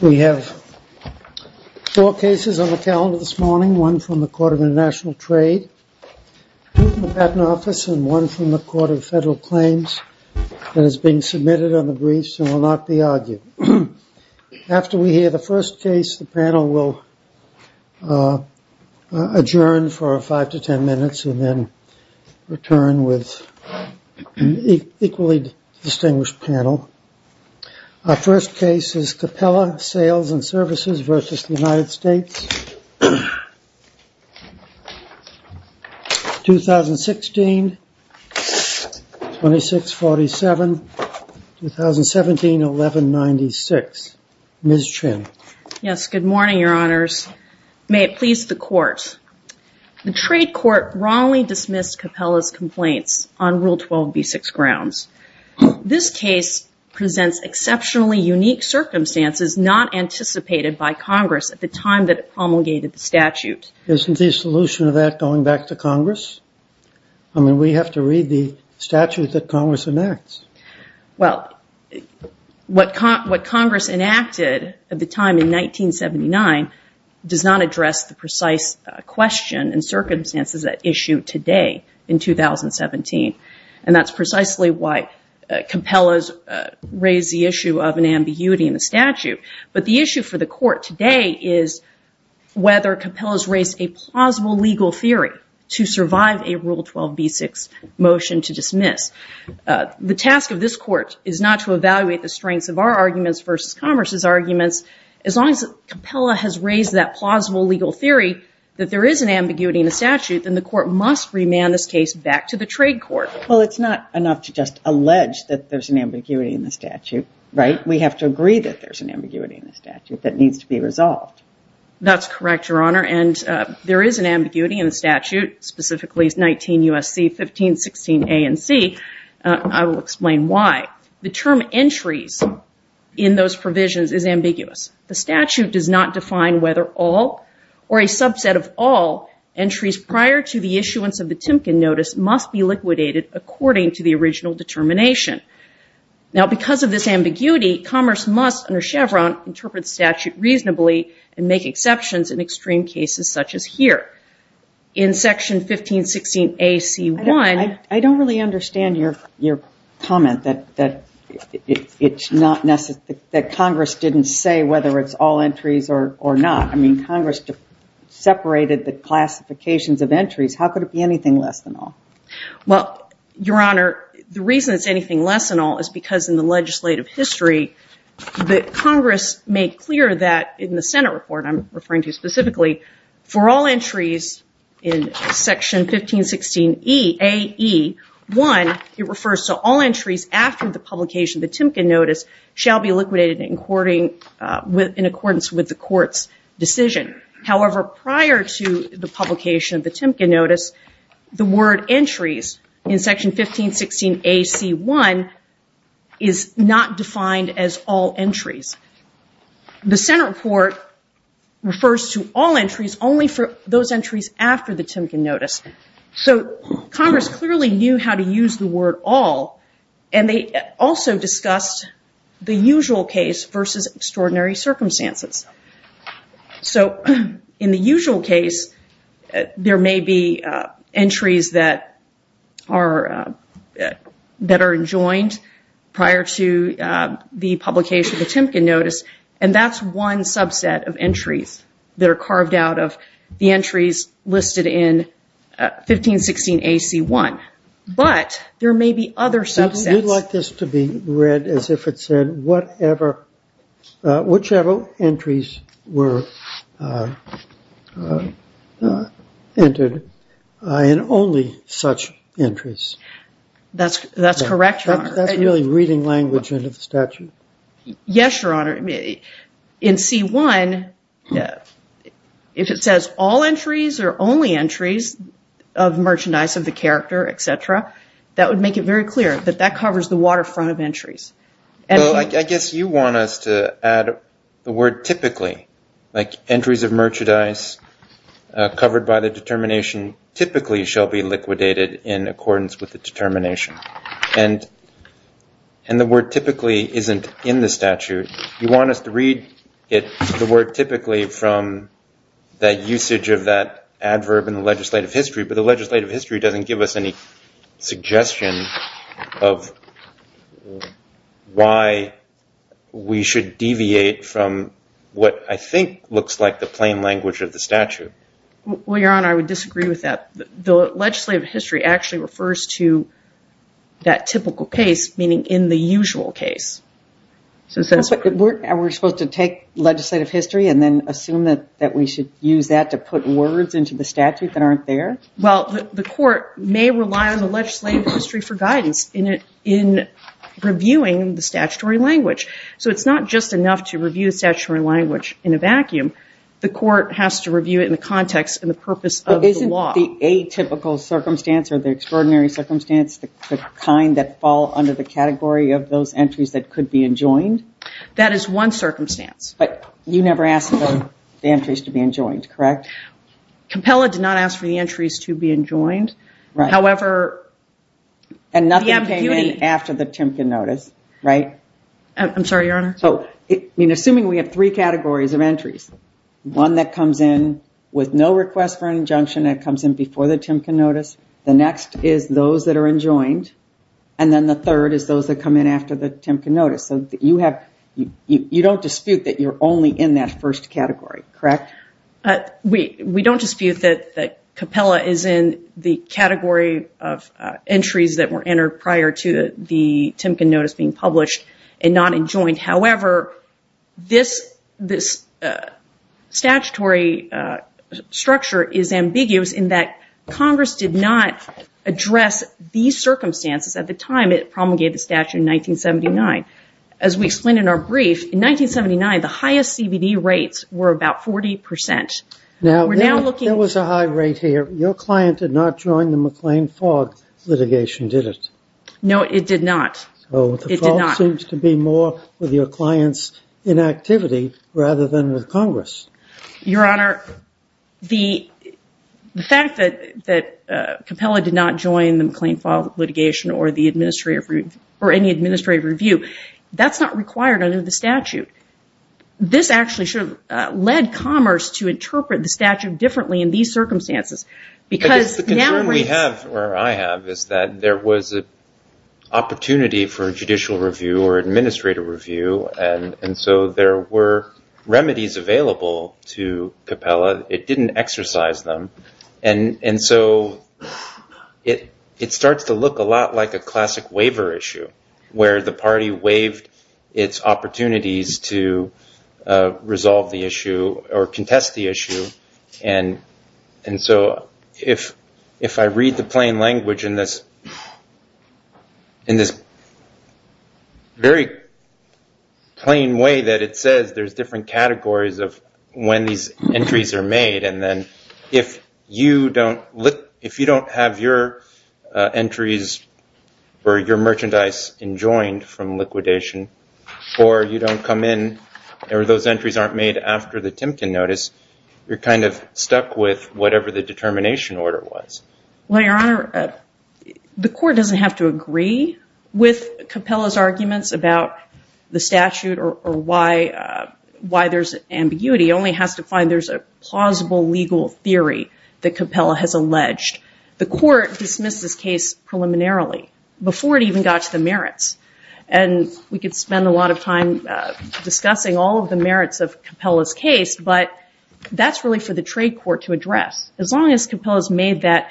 We have four cases on the calendar this morning, one from the Court of International Trade, two from the Patent Office, and one from the Court of Federal Claims that is being submitted on the briefs and will not be argued. After we hear the first case, the panel will adjourn for five to ten minutes and then return with an equally distinguished panel. Our first case is Capella Sales & Services v. United States, 2016-2647, 2017-1196. Ms. Chin. Yes, good morning, Your Honors. May it please the Court. The trade court wrongly dismissed Capella's complaints on Rule 12b-6 grounds. This case presents exceptionally unique circumstances not anticipated by Congress at the time that it promulgated the statute. Isn't the solution of that going back to Congress? I mean, we have to read the statute that Congress enacts. Well, what Congress enacted at the time in 1979 does not address the precise question and circumstances at issue today in 2017. And that's precisely why Capella's raised the issue of an ambiguity in the statute. But the issue for the Court today is whether Capella's raised a plausible legal theory to survive a Rule 12b-6 motion to dismiss. The task of this Court is not to evaluate the strengths of our arguments versus Congress's arguments. As long as Capella has raised that plausible legal theory that there is an ambiguity in the statute, then the Court must remand this case back to the trade court. Well, it's not enough to just allege that there's an ambiguity in the statute, right? We have to agree that there's an ambiguity in the statute that needs to be resolved. That's correct, Your Honor, and there is an ambiguity in the statute, specifically 19 U.S.C. 1516 A and C. I will explain why. The term entries in those provisions is ambiguous. The statute does not define whether all or a subset of all entries prior to the issuance of the Timken Notice must be liquidated according to the original determination. Now, because of this ambiguity, commerce must, under Chevron, interpret the statute reasonably and make exceptions in extreme cases such as here. In Section 1516 A.C. 1... I don't really understand your comment that Congress didn't say whether it's all entries or not. I mean, Congress separated the classifications of entries. How could it be anything less than all? Well, Your Honor, the reason it's anything less than all is because in the legislative history that Congress made clear that in the Senate report I'm referring to specifically, for all entries in Section 1516 A.E. 1, it refers to all entries after the publication of the Timken Notice shall be liquidated in accordance with the Court's decision. However, prior to the publication of the Timken Notice, the word entries in Section 1516 A.C. 1 is not defined as all entries. The Senate report refers to all entries only for those entries after the Timken Notice. So Congress clearly knew how to use the word all, and they also discussed the usual case versus extraordinary circumstances. So in the usual case, there may be entries that are enjoined prior to the publication of the Timken Notice, and that's one subset of entries that are carved out of the entries listed in 1516 A.C. 1. But there may be other subsets. You'd like this to be read as if it said whatever, whichever entries were entered, and only such as that. That's really reading language into the statute? Yes, Your Honor. In C. 1, if it says all entries or only entries of merchandise of the character, etc., that would make it very clear that that covers the waterfront of entries. Well, I guess you want us to add the word typically, like entries of merchandise covered by the determination typically shall be liquidated in accordance with the determination. And the word typically isn't in the statute. You want us to read the word typically from that usage of that adverb in the legislative history, but the legislative history doesn't give us any suggestion of why we should deviate from what I think looks like the plain language of the statute. Well, Your Honor, I would disagree with that. The legislative history actually refers to that typical case, meaning in the usual case. Are we supposed to take legislative history and then assume that we should use that to put words into the statute that aren't there? Well, the court may rely on the legislative history for guidance in reviewing the statutory language. So it's not just enough to review the statutory language in a vacuum. The court has to review it in the context and the purpose of the law. But isn't the atypical circumstance or the extraordinary circumstance the kind that fall under the category of those entries that could be enjoined? That is one circumstance. But you never asked for the entries to be enjoined, correct? Compella did not ask for the entries to be enjoined. However, the ambiguity... And nothing came in after the Timken notice, right? I'm sorry, Your Honor. Assuming we have three categories of entries, one that comes in with no request for injunction that comes in before the Timken notice, the next is those that are enjoined, and then the third is those that come in after the Timken notice. So you don't dispute that you're only in that first category, correct? We don't dispute that Compella is in the category of entries that were entered prior to the Timken notice being published and not enjoined. However, this statutory structure is ambiguous in that Congress did not address these circumstances at the time it promulgated the statute in 1979. As we explained in our brief, in 1979, the highest CBD rates were about 40%. There was a high rate here. Your client did not join the McLean-Fogg litigation, did it? No, it did not. So the fault seems to be more with your client's inactivity rather than with Congress. Your Honor, the fact that Compella did not join the McLean-Fogg litigation or any administrative review, that's not required under the statute. This actually should have led Commerce to interpret the statute differently in these circumstances. The concern we have, or I have, is that there was an opportunity for judicial review or administrative review, and so there were remedies available to Compella. It didn't exercise them. And so it starts to look a lot like a classic waiver issue, where the party waived its opportunities to resolve the issue or contest the issue. And so if I read the plain language in this very plain way that it says there's different categories of when these entries are made, and then if you don't have your entries or you don't come in or those entries aren't made after the Timken notice, you're kind of stuck with whatever the determination order was. Well, Your Honor, the court doesn't have to agree with Compella's arguments about the statute or why there's ambiguity. It only has to find there's a plausible legal theory that Compella has alleged. The court dismissed this case preliminarily, before it even got to the merits. And we could spend a lot of time discussing all of the merits of Compella's case, but that's really for the trade court to address. As long as Compella's made that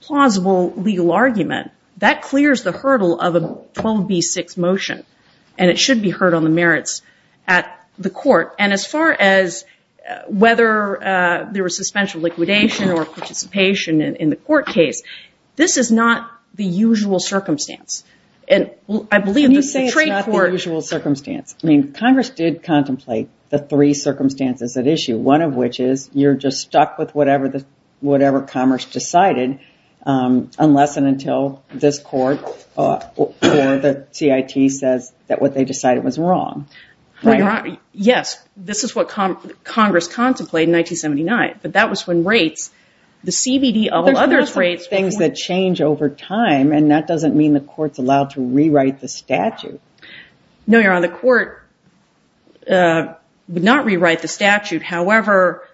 plausible legal argument, that clears the hurdle of a 12b6 motion, and it should be heard on the merits at the court. And as far as whether there was suspension of liquidation or participation in the court case, this is not the usual circumstance. Can you say it's not the usual circumstance? I mean, Congress did contemplate the three circumstances at issue, one of which is you're just stuck with whatever Commerce decided, unless and until this court or the CIT says that what they decided was wrong. Yes, this is what Congress contemplated in 1979, but that was when rates, the CBD, all the courts allowed to rewrite the statute. No, Your Honor, the court would not rewrite the statute. However,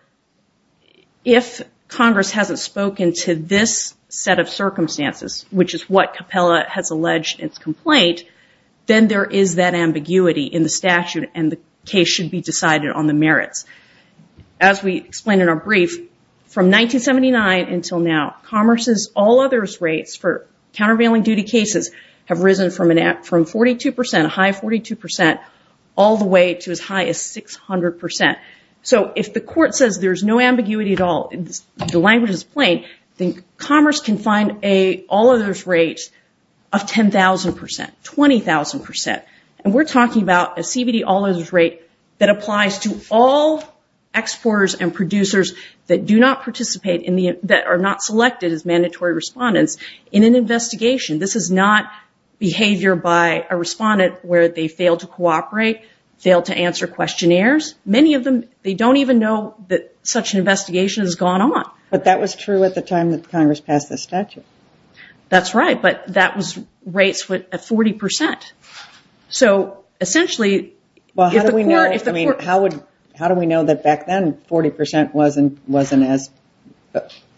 if Congress hasn't spoken to this set of circumstances, which is what Compella has alleged its complaint, then there is that ambiguity in the statute and the case should be decided on the merits. As we explained in our brief, from 1979 until now, Commerce's, all others' rates for countervailing duty cases have risen from 42 percent, a high of 42 percent, all the way to as high as 600 percent. So if the court says there's no ambiguity at all, the language is plain, then Commerce can find an all others' rate of 10,000 percent, 20,000 percent. And we're talking about a CBD all others' rate that applies to all exporters and producers that do not participate in the, that are not selected as mandatory respondents in an investigation. This is not behavior by a respondent where they fail to cooperate, fail to answer questionnaires. Many of them, they don't even know that such an investigation has gone on. But that was true at the time that Congress passed the statute. That's right, but that was rates at 40 percent. So, essentially, if the court... How do we know that back then, 40 percent wasn't as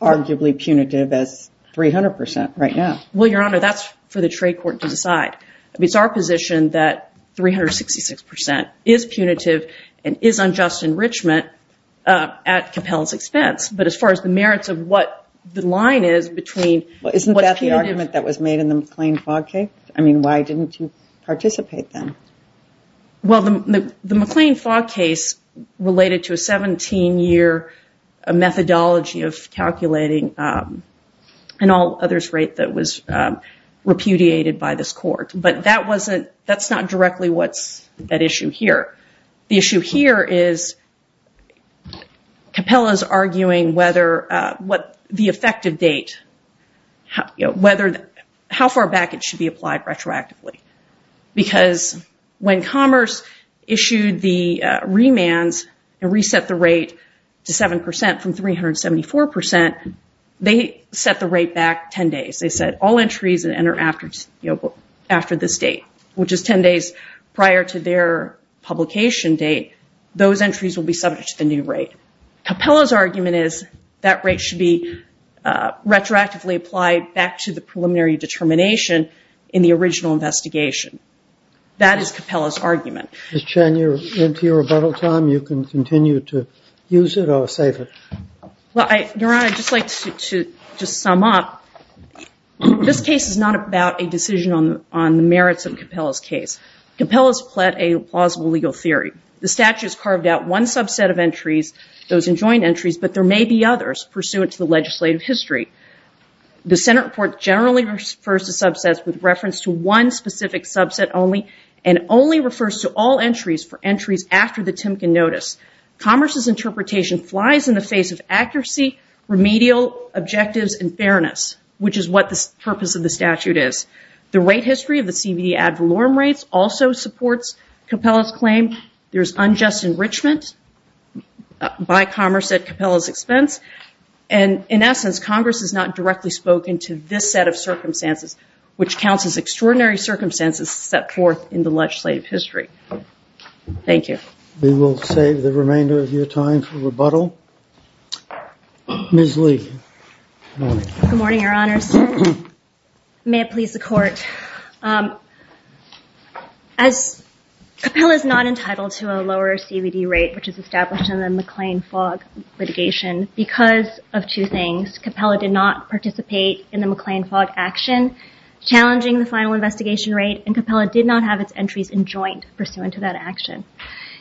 arguably punitive as 300 percent right now? Well, Your Honor, that's for the trade court to decide. I mean, it's our position that 366 percent is punitive and is unjust enrichment at compel's expense. But as far as the merits of what the line is between... Well, isn't that the argument that was made in the McLean Fog Case? I mean, why didn't you participate then? Well, the McLean Fog Case related to a 17-year methodology of calculating an all others rate that was repudiated by this court. But that wasn't, that's not directly what's at issue here. The issue here is Capella's arguing whether, what the effective date, whether, how far back it should be applied retroactively. Because when Commerce issued the remands and reset the rate to 7 percent from 374 percent, they set the rate back 10 days. They said all entries that enter after this date, which is 10 days prior to their publication date, those entries will be subject to the new rate. Capella's argument is that rate should be retroactively applied back to the preliminary determination in the original investigation. That is Capella's argument. Ms. Chen, you're into your rebuttal time. You can continue to use it or save it. Well, Your Honor, I'd just like to just sum up. This case is not about a decision on the merits of Capella's case. Capella's pled a plausible legal theory. The statute's carved out one subset of entries, those enjoined entries, but there may be others pursuant to the legislative history. The Senate report generally refers to subsets with reference to one specific subset only and only refers to all entries for entries after the Timken Notice. Commerce's interpretation flies in the face of accuracy, remedial objectives, and fairness, which is what the purpose of the statute is. The rate history of the CVD ad valorem rates also supports Capella's claim and, in essence, Congress has not directly spoken to this set of circumstances, which counts as extraordinary circumstances set forth in the legislative history. Thank you. We will save the remainder of your time for rebuttal. Ms. Lee. Good morning, Your Honors. May it please the Court. As Capella's not entitled to a lower CVD rate, which is established in the McLean-Fogg litigation, because of two things. Capella did not participate in the McLean-Fogg action challenging the final investigation rate and Capella did not have its entries enjoined pursuant to that action.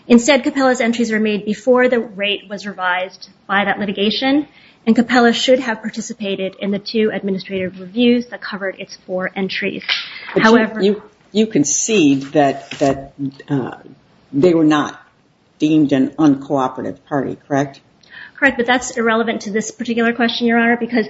Instead, Capella's entries were made before the rate was revised by that litigation and Capella should have participated in the two administrative reviews that covered its four entries. You concede that they were not deemed an uncooperative party, correct? Correct, but that's irrelevant to this particular question, Your Honor, because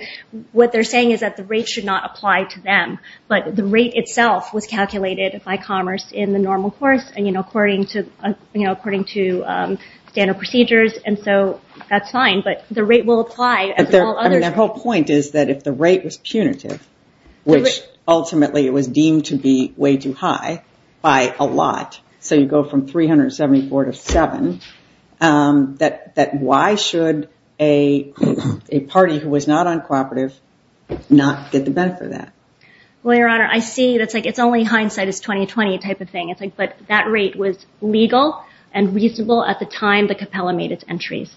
what they're saying is that the rate should not apply to them, but the rate itself was calculated by Commerce in the normal course and, you know, according to standard procedures and so that's fine, but the rate will apply. The whole point is that if the rate was punitive, which ultimately it was deemed to be way too high by a lot, so you go from 374 to 7, that why should a party who was not uncooperative not get the benefit of that? Well, Your Honor, I see that it's only hindsight, it's a 20-20 type of thing, but that rate was legal and reasonable at the time that Capella made its entries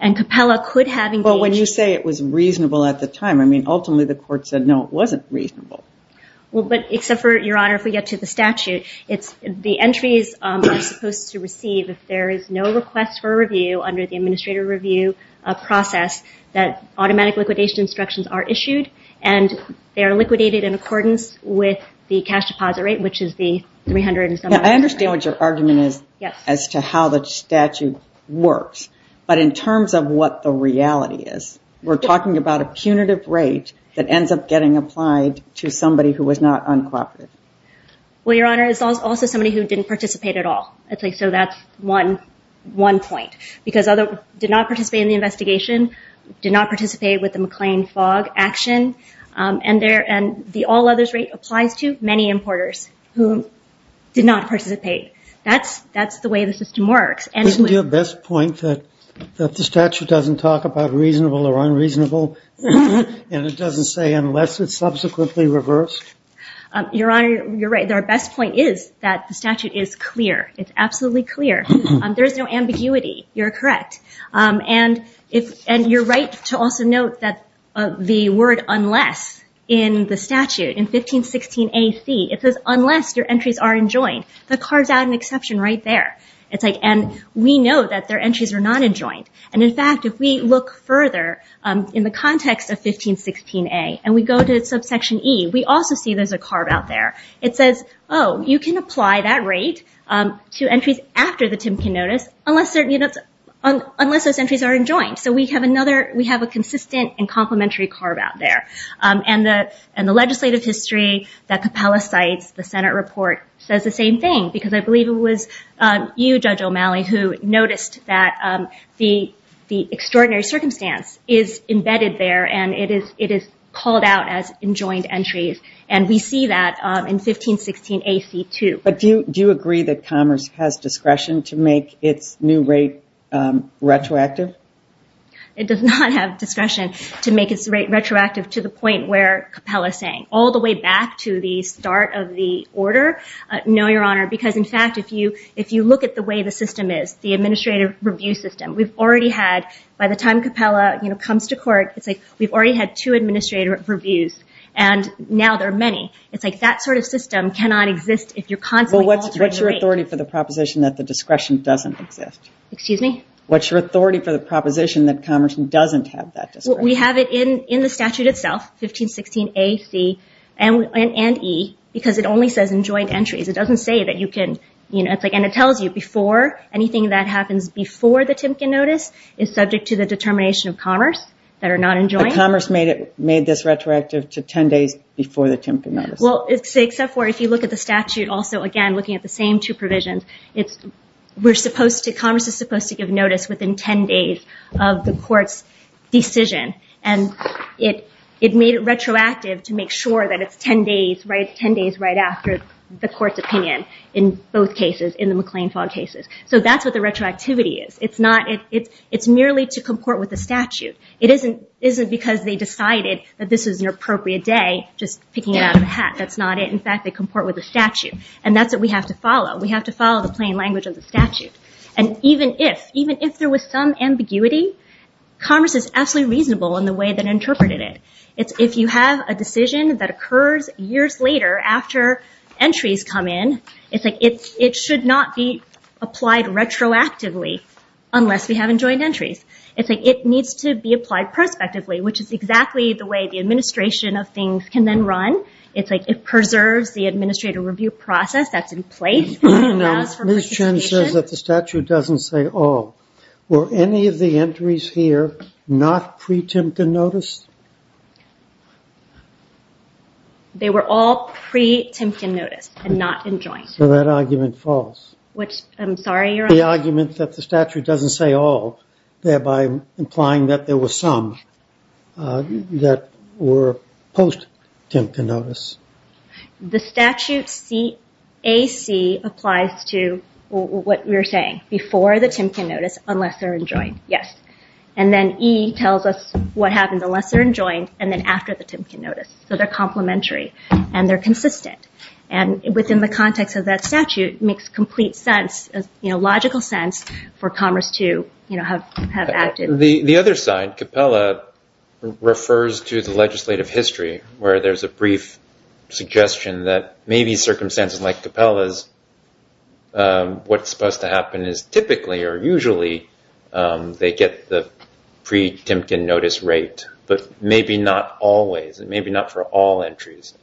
and Capella could have engaged... But when you say it was reasonable at the time, I mean, ultimately the court said, no, it wasn't reasonable. Well, but except for, Your Honor, if we get to the statute, the entries are supposed to receive, if there is no request for review under the administrative review process, that automatic liquidation instructions are issued and they are liquidated in accordance with the cash deposit rate, which is the 300 and something... I understand what your argument is as to how the statute works, but in terms of what the reality is, we're talking about a punitive rate that ends up getting applied to somebody who was not uncooperative. Well, Your Honor, it's also somebody who didn't participate at all. So that's one point. Because others did not participate in the investigation, did not participate with the McLean Fog action, and the all others rate applies to many importers who did not participate. That's the way the system works. Isn't your best point that the statute doesn't talk about reasonable or unreasonable and it doesn't say unless it's subsequently reversed? Your Honor, you're right. Our best point is that the statute is clear. It's absolutely clear. There's no ambiguity. You're correct. And you're right to also note that the word unless in the statute, in 1516Ac, it says unless your entries are enjoined. That carves out an exception right there. And we know that their entries are not enjoined. And in fact, if we look further in the context of 1516A and we go to subsection E, we also see there's a carve out there. It says, oh, you can apply that rate to entries after the Timpian Notice unless those entries are enjoined. So we have a consistent and complementary carve out there. And the legislative history that Capella cites, the Senate report, says the same thing. Because I believe it was you, Judge O'Malley, who noticed that the extraordinary circumstance is embedded there and it is called out as enjoined entries. And we see that in 1516Ac, too. But do you agree that Commerce has discretion to make its new rate retroactive? It does not have discretion to make its rate retroactive to the point where Capella is saying. All the way back to the start of the order, no, Your Honor, because in fact, if you look at the way the system is, the administrative review system, by the time Capella comes to court, we've already had two administrative reviews and now there are many. That sort of system cannot exist if you're constantly altering the rate. What's your authority for the proposition that the discretion doesn't exist? What's your authority for the proposition that Commerce doesn't have that discretion? We have it in the statute itself, 1516Ac and E, because it only says enjoined entries. And it tells you anything that happens before the Timken Notice is subject to the determination of Commerce that are not enjoined. But Commerce made this retroactive to 10 days before the Timken Notice. Except for if you look at the statute, again, looking at the same two provisions, Commerce is supposed to give notice within 10 days of the court's decision. It made it retroactive to make sure that it's 10 days right after the court's opinion in both cases, in the McLean-Fogg cases. That's what the retroactivity is. It's merely to comport with the statute. It isn't because they decided that this is an appropriate day, just picking it out of the hat, that's not it. In fact, they comport with the statute. And that's what we have to follow. We have to follow the plain language of the statute. And even if there was some ambiguity, Commerce is absolutely reasonable in the way that it interpreted it. If you have a decision that occurs years later after entries come in, it should not be applied retroactively unless we have enjoined entries. It needs to be applied prospectively, which is exactly the way the administration of things can then run. It preserves the administrative review process that's in place. Ms. Chen says that the statute doesn't say all. Were any of the entries here not pre-Timken notice? They were all pre-Timken notice and not enjoined. So that argument is false. The argument that the statute doesn't say all, thereby implying that there were some that were post-Timken notice. The statute AC applies to what we were saying. Before the Timken notice, unless they're enjoined. And then E tells us what happens unless they're enjoined and then after the Timken notice. So they're complementary and they're consistent. And within the context of that statute, The other side, Capella, refers to the legislative history where there's a brief suggestion that maybe circumstances like Capella's what's supposed to happen is typically or usually they get the pre-Timken notice rate but maybe not always. Maybe not for all entries.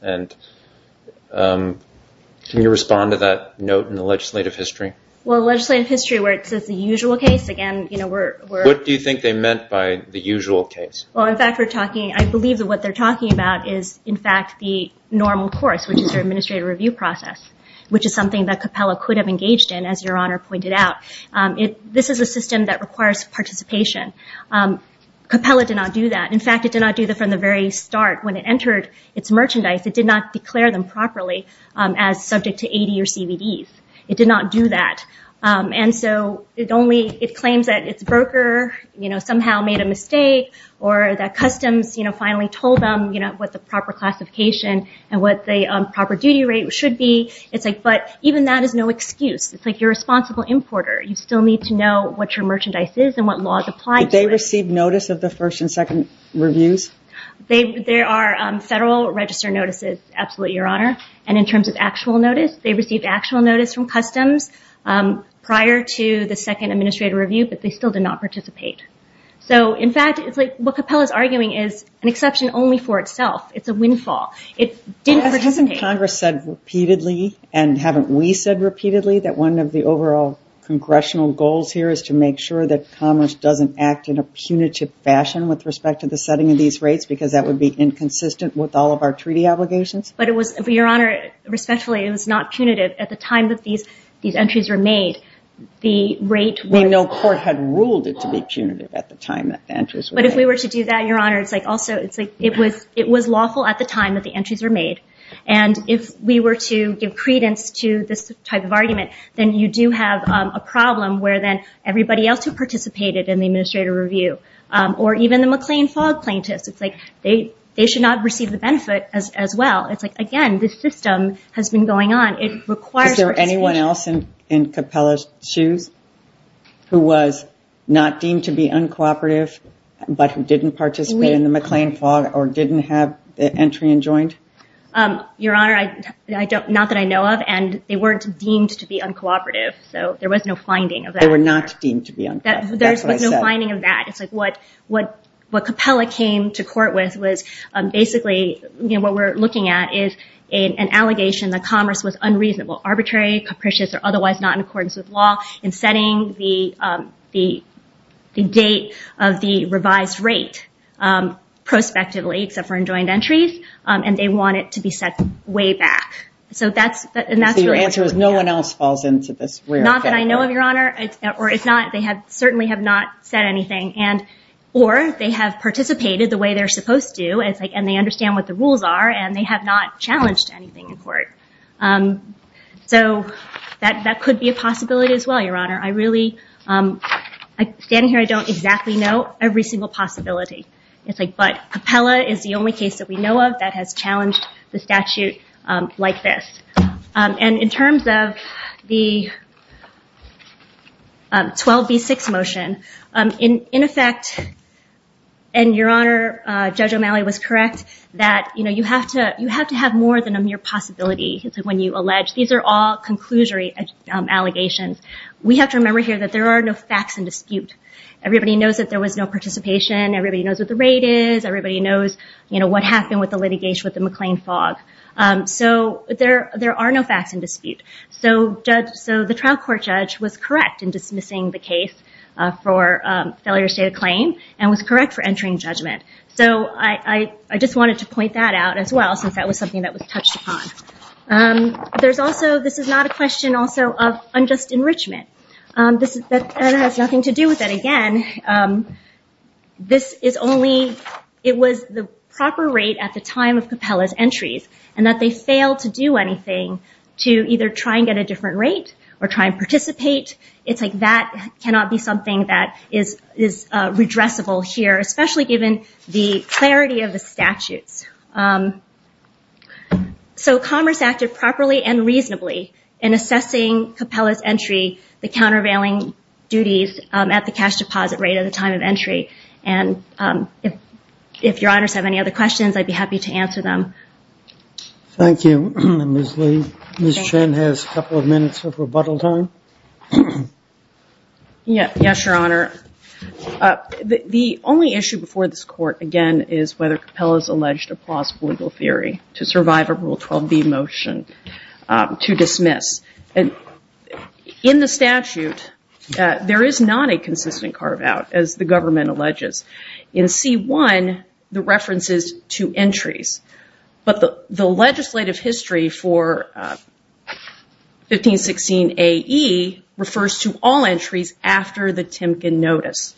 Can you respond to that note in the legislative history? The legislative history where it says the usual case What do you think they meant by the usual case? I believe that what they're talking about is in fact the normal course, which is their administrative review process. Which is something that Capella could have engaged in as your Honor pointed out. This is a system that requires participation. Capella did not do that. In fact, it did not do that from the very start. When it entered its merchandise, it did not declare them properly as subject to AD or CBD. It did not do that. It claims that its broker somehow made a mistake or that customs finally told them what the proper classification and what the proper duty rate should be. But even that is no excuse. It's like you're a responsible importer. You still need to know what your merchandise is and what laws apply to it. Did they receive notice of the first and second reviews? There are federal register notices. In terms of actual notice, they received actual notice from customs prior to the second administrative review but they still did not participate. What Capella is arguing is an exception only for itself. It's a windfall. Hasn't Congress said repeatedly and haven't we said repeatedly that one of the overall congressional goals here is to make sure that commerce doesn't act in a punitive fashion with respect to the setting of these rates because that would be inconsistent with all of our treaty obligations? Respectfully, it was not punitive. At the time that these entries were made... We know court had ruled it to be punitive at the time that the entries were made. It was lawful at the time that the entries were made and if we were to give credence to this type of argument then you do have a problem where everybody else who participated in the administrative review or even the McLean Fog plaintiffs they should not receive the benefit as well. Again, this system has been going on. Is there anyone else in Capella's shoes who was not deemed to be uncooperative but who didn't participate in the McLean Fog or didn't have the entry enjoined? Your Honor, not that I know of and they weren't deemed to be uncooperative so there was no finding of that. What Capella came to court with was basically an allegation that commerce was unreasonable, arbitrary, capricious, or otherwise not in accordance with law in setting the date of the revised rate prospectively except for enjoined entries and they want it to be set way back. So your answer is no one else falls into this? Not that I know of, Your Honor. They certainly have not said anything or they have participated the way they're supposed to and they understand what the rules are and they have not challenged anything in court. So that could be a possibility as well, Your Honor. Standing here I don't exactly know every single possibility but Capella is the only case that we know of that has challenged the statute like this. And in terms of the 12B6 motion in effect and your Honor, Judge O'Malley was correct that you have to have more than a mere possibility when you allege. These are all conclusory allegations. We have to remember here that there are no facts in dispute. Everybody knows that there was no participation everybody knows what the rate is everybody knows what happened with the litigation with the McLean Fog. So there are no facts in dispute. So the trial court judge was correct in dismissing the case for failure to state a claim and was correct for entering judgment. So I just wanted to point that out as well since that was something that was touched upon. This is not a question also of unjust enrichment. This has nothing to do with it again. This is only it was the proper rate at the time of Capella's entries and that they failed to do anything to either try and get a different rate or try and participate. It's like that cannot be something that is redressable here So Commerce acted properly and reasonably in assessing Capella's entry the countervailing duties at the cash deposit rate at the time of entry and if your honors have any other questions I'd be happy to answer them. Thank you, Ms. Lee. Ms. Chen has a couple of minutes of rebuttal time. Yes, your honor. The only issue before this court again is whether Capella's alleged a plausible legal theory to survive a Rule 12b motion to dismiss. In the statute there is not a consistent carve out as the government alleges. In C1 the reference is to entries but the legislative history for 1516AE refers to all entries after the Timken notice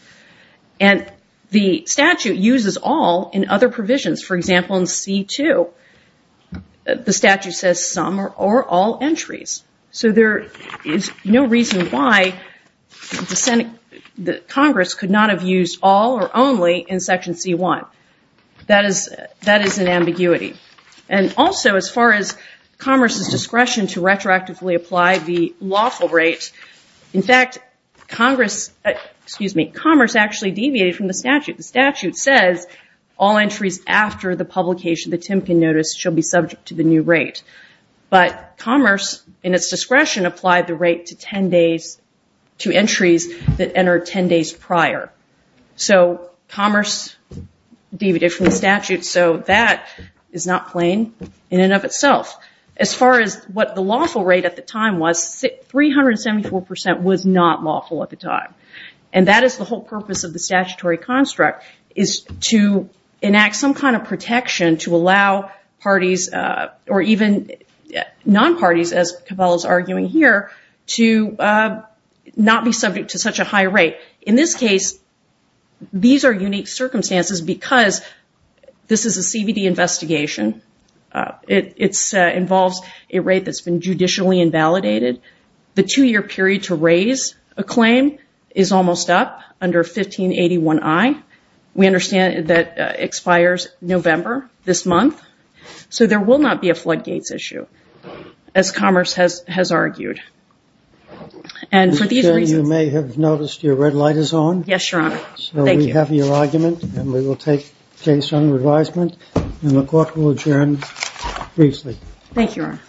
and the statute uses all in other provisions, for example in C2 the statute says some or all entries so there is no reason why Congress could not have used all or only in section C1 that is an ambiguity and also as far as Commerce's discretion to retroactively apply the lawful rate in fact Commerce actually deviated from the statute. The statute says all entries after the publication of the Timken notice should be subject to the new rate but Commerce in its discretion applied the rate to entries that entered 10 days prior so Commerce deviated from the statute so that is not plain in and of itself. As far as what the lawful rate at the time was 374% was not lawful at the time and that is the whole purpose of the statutory construct is to enact some kind of protection to allow parties or even non-parties as Cabela is arguing here to not be subject to such a high rate in this case these are unique circumstances because this is a CVD investigation it involves a rate that has been judicially invalidated the two year period to raise a claim is almost up under 1581I we understand that expires November this month so there will not be a floodgates issue as Commerce has argued and for these reasons you may have noticed your red light is on so we have your argument and we will take case under advisement and the court will adjourn briefly Thank you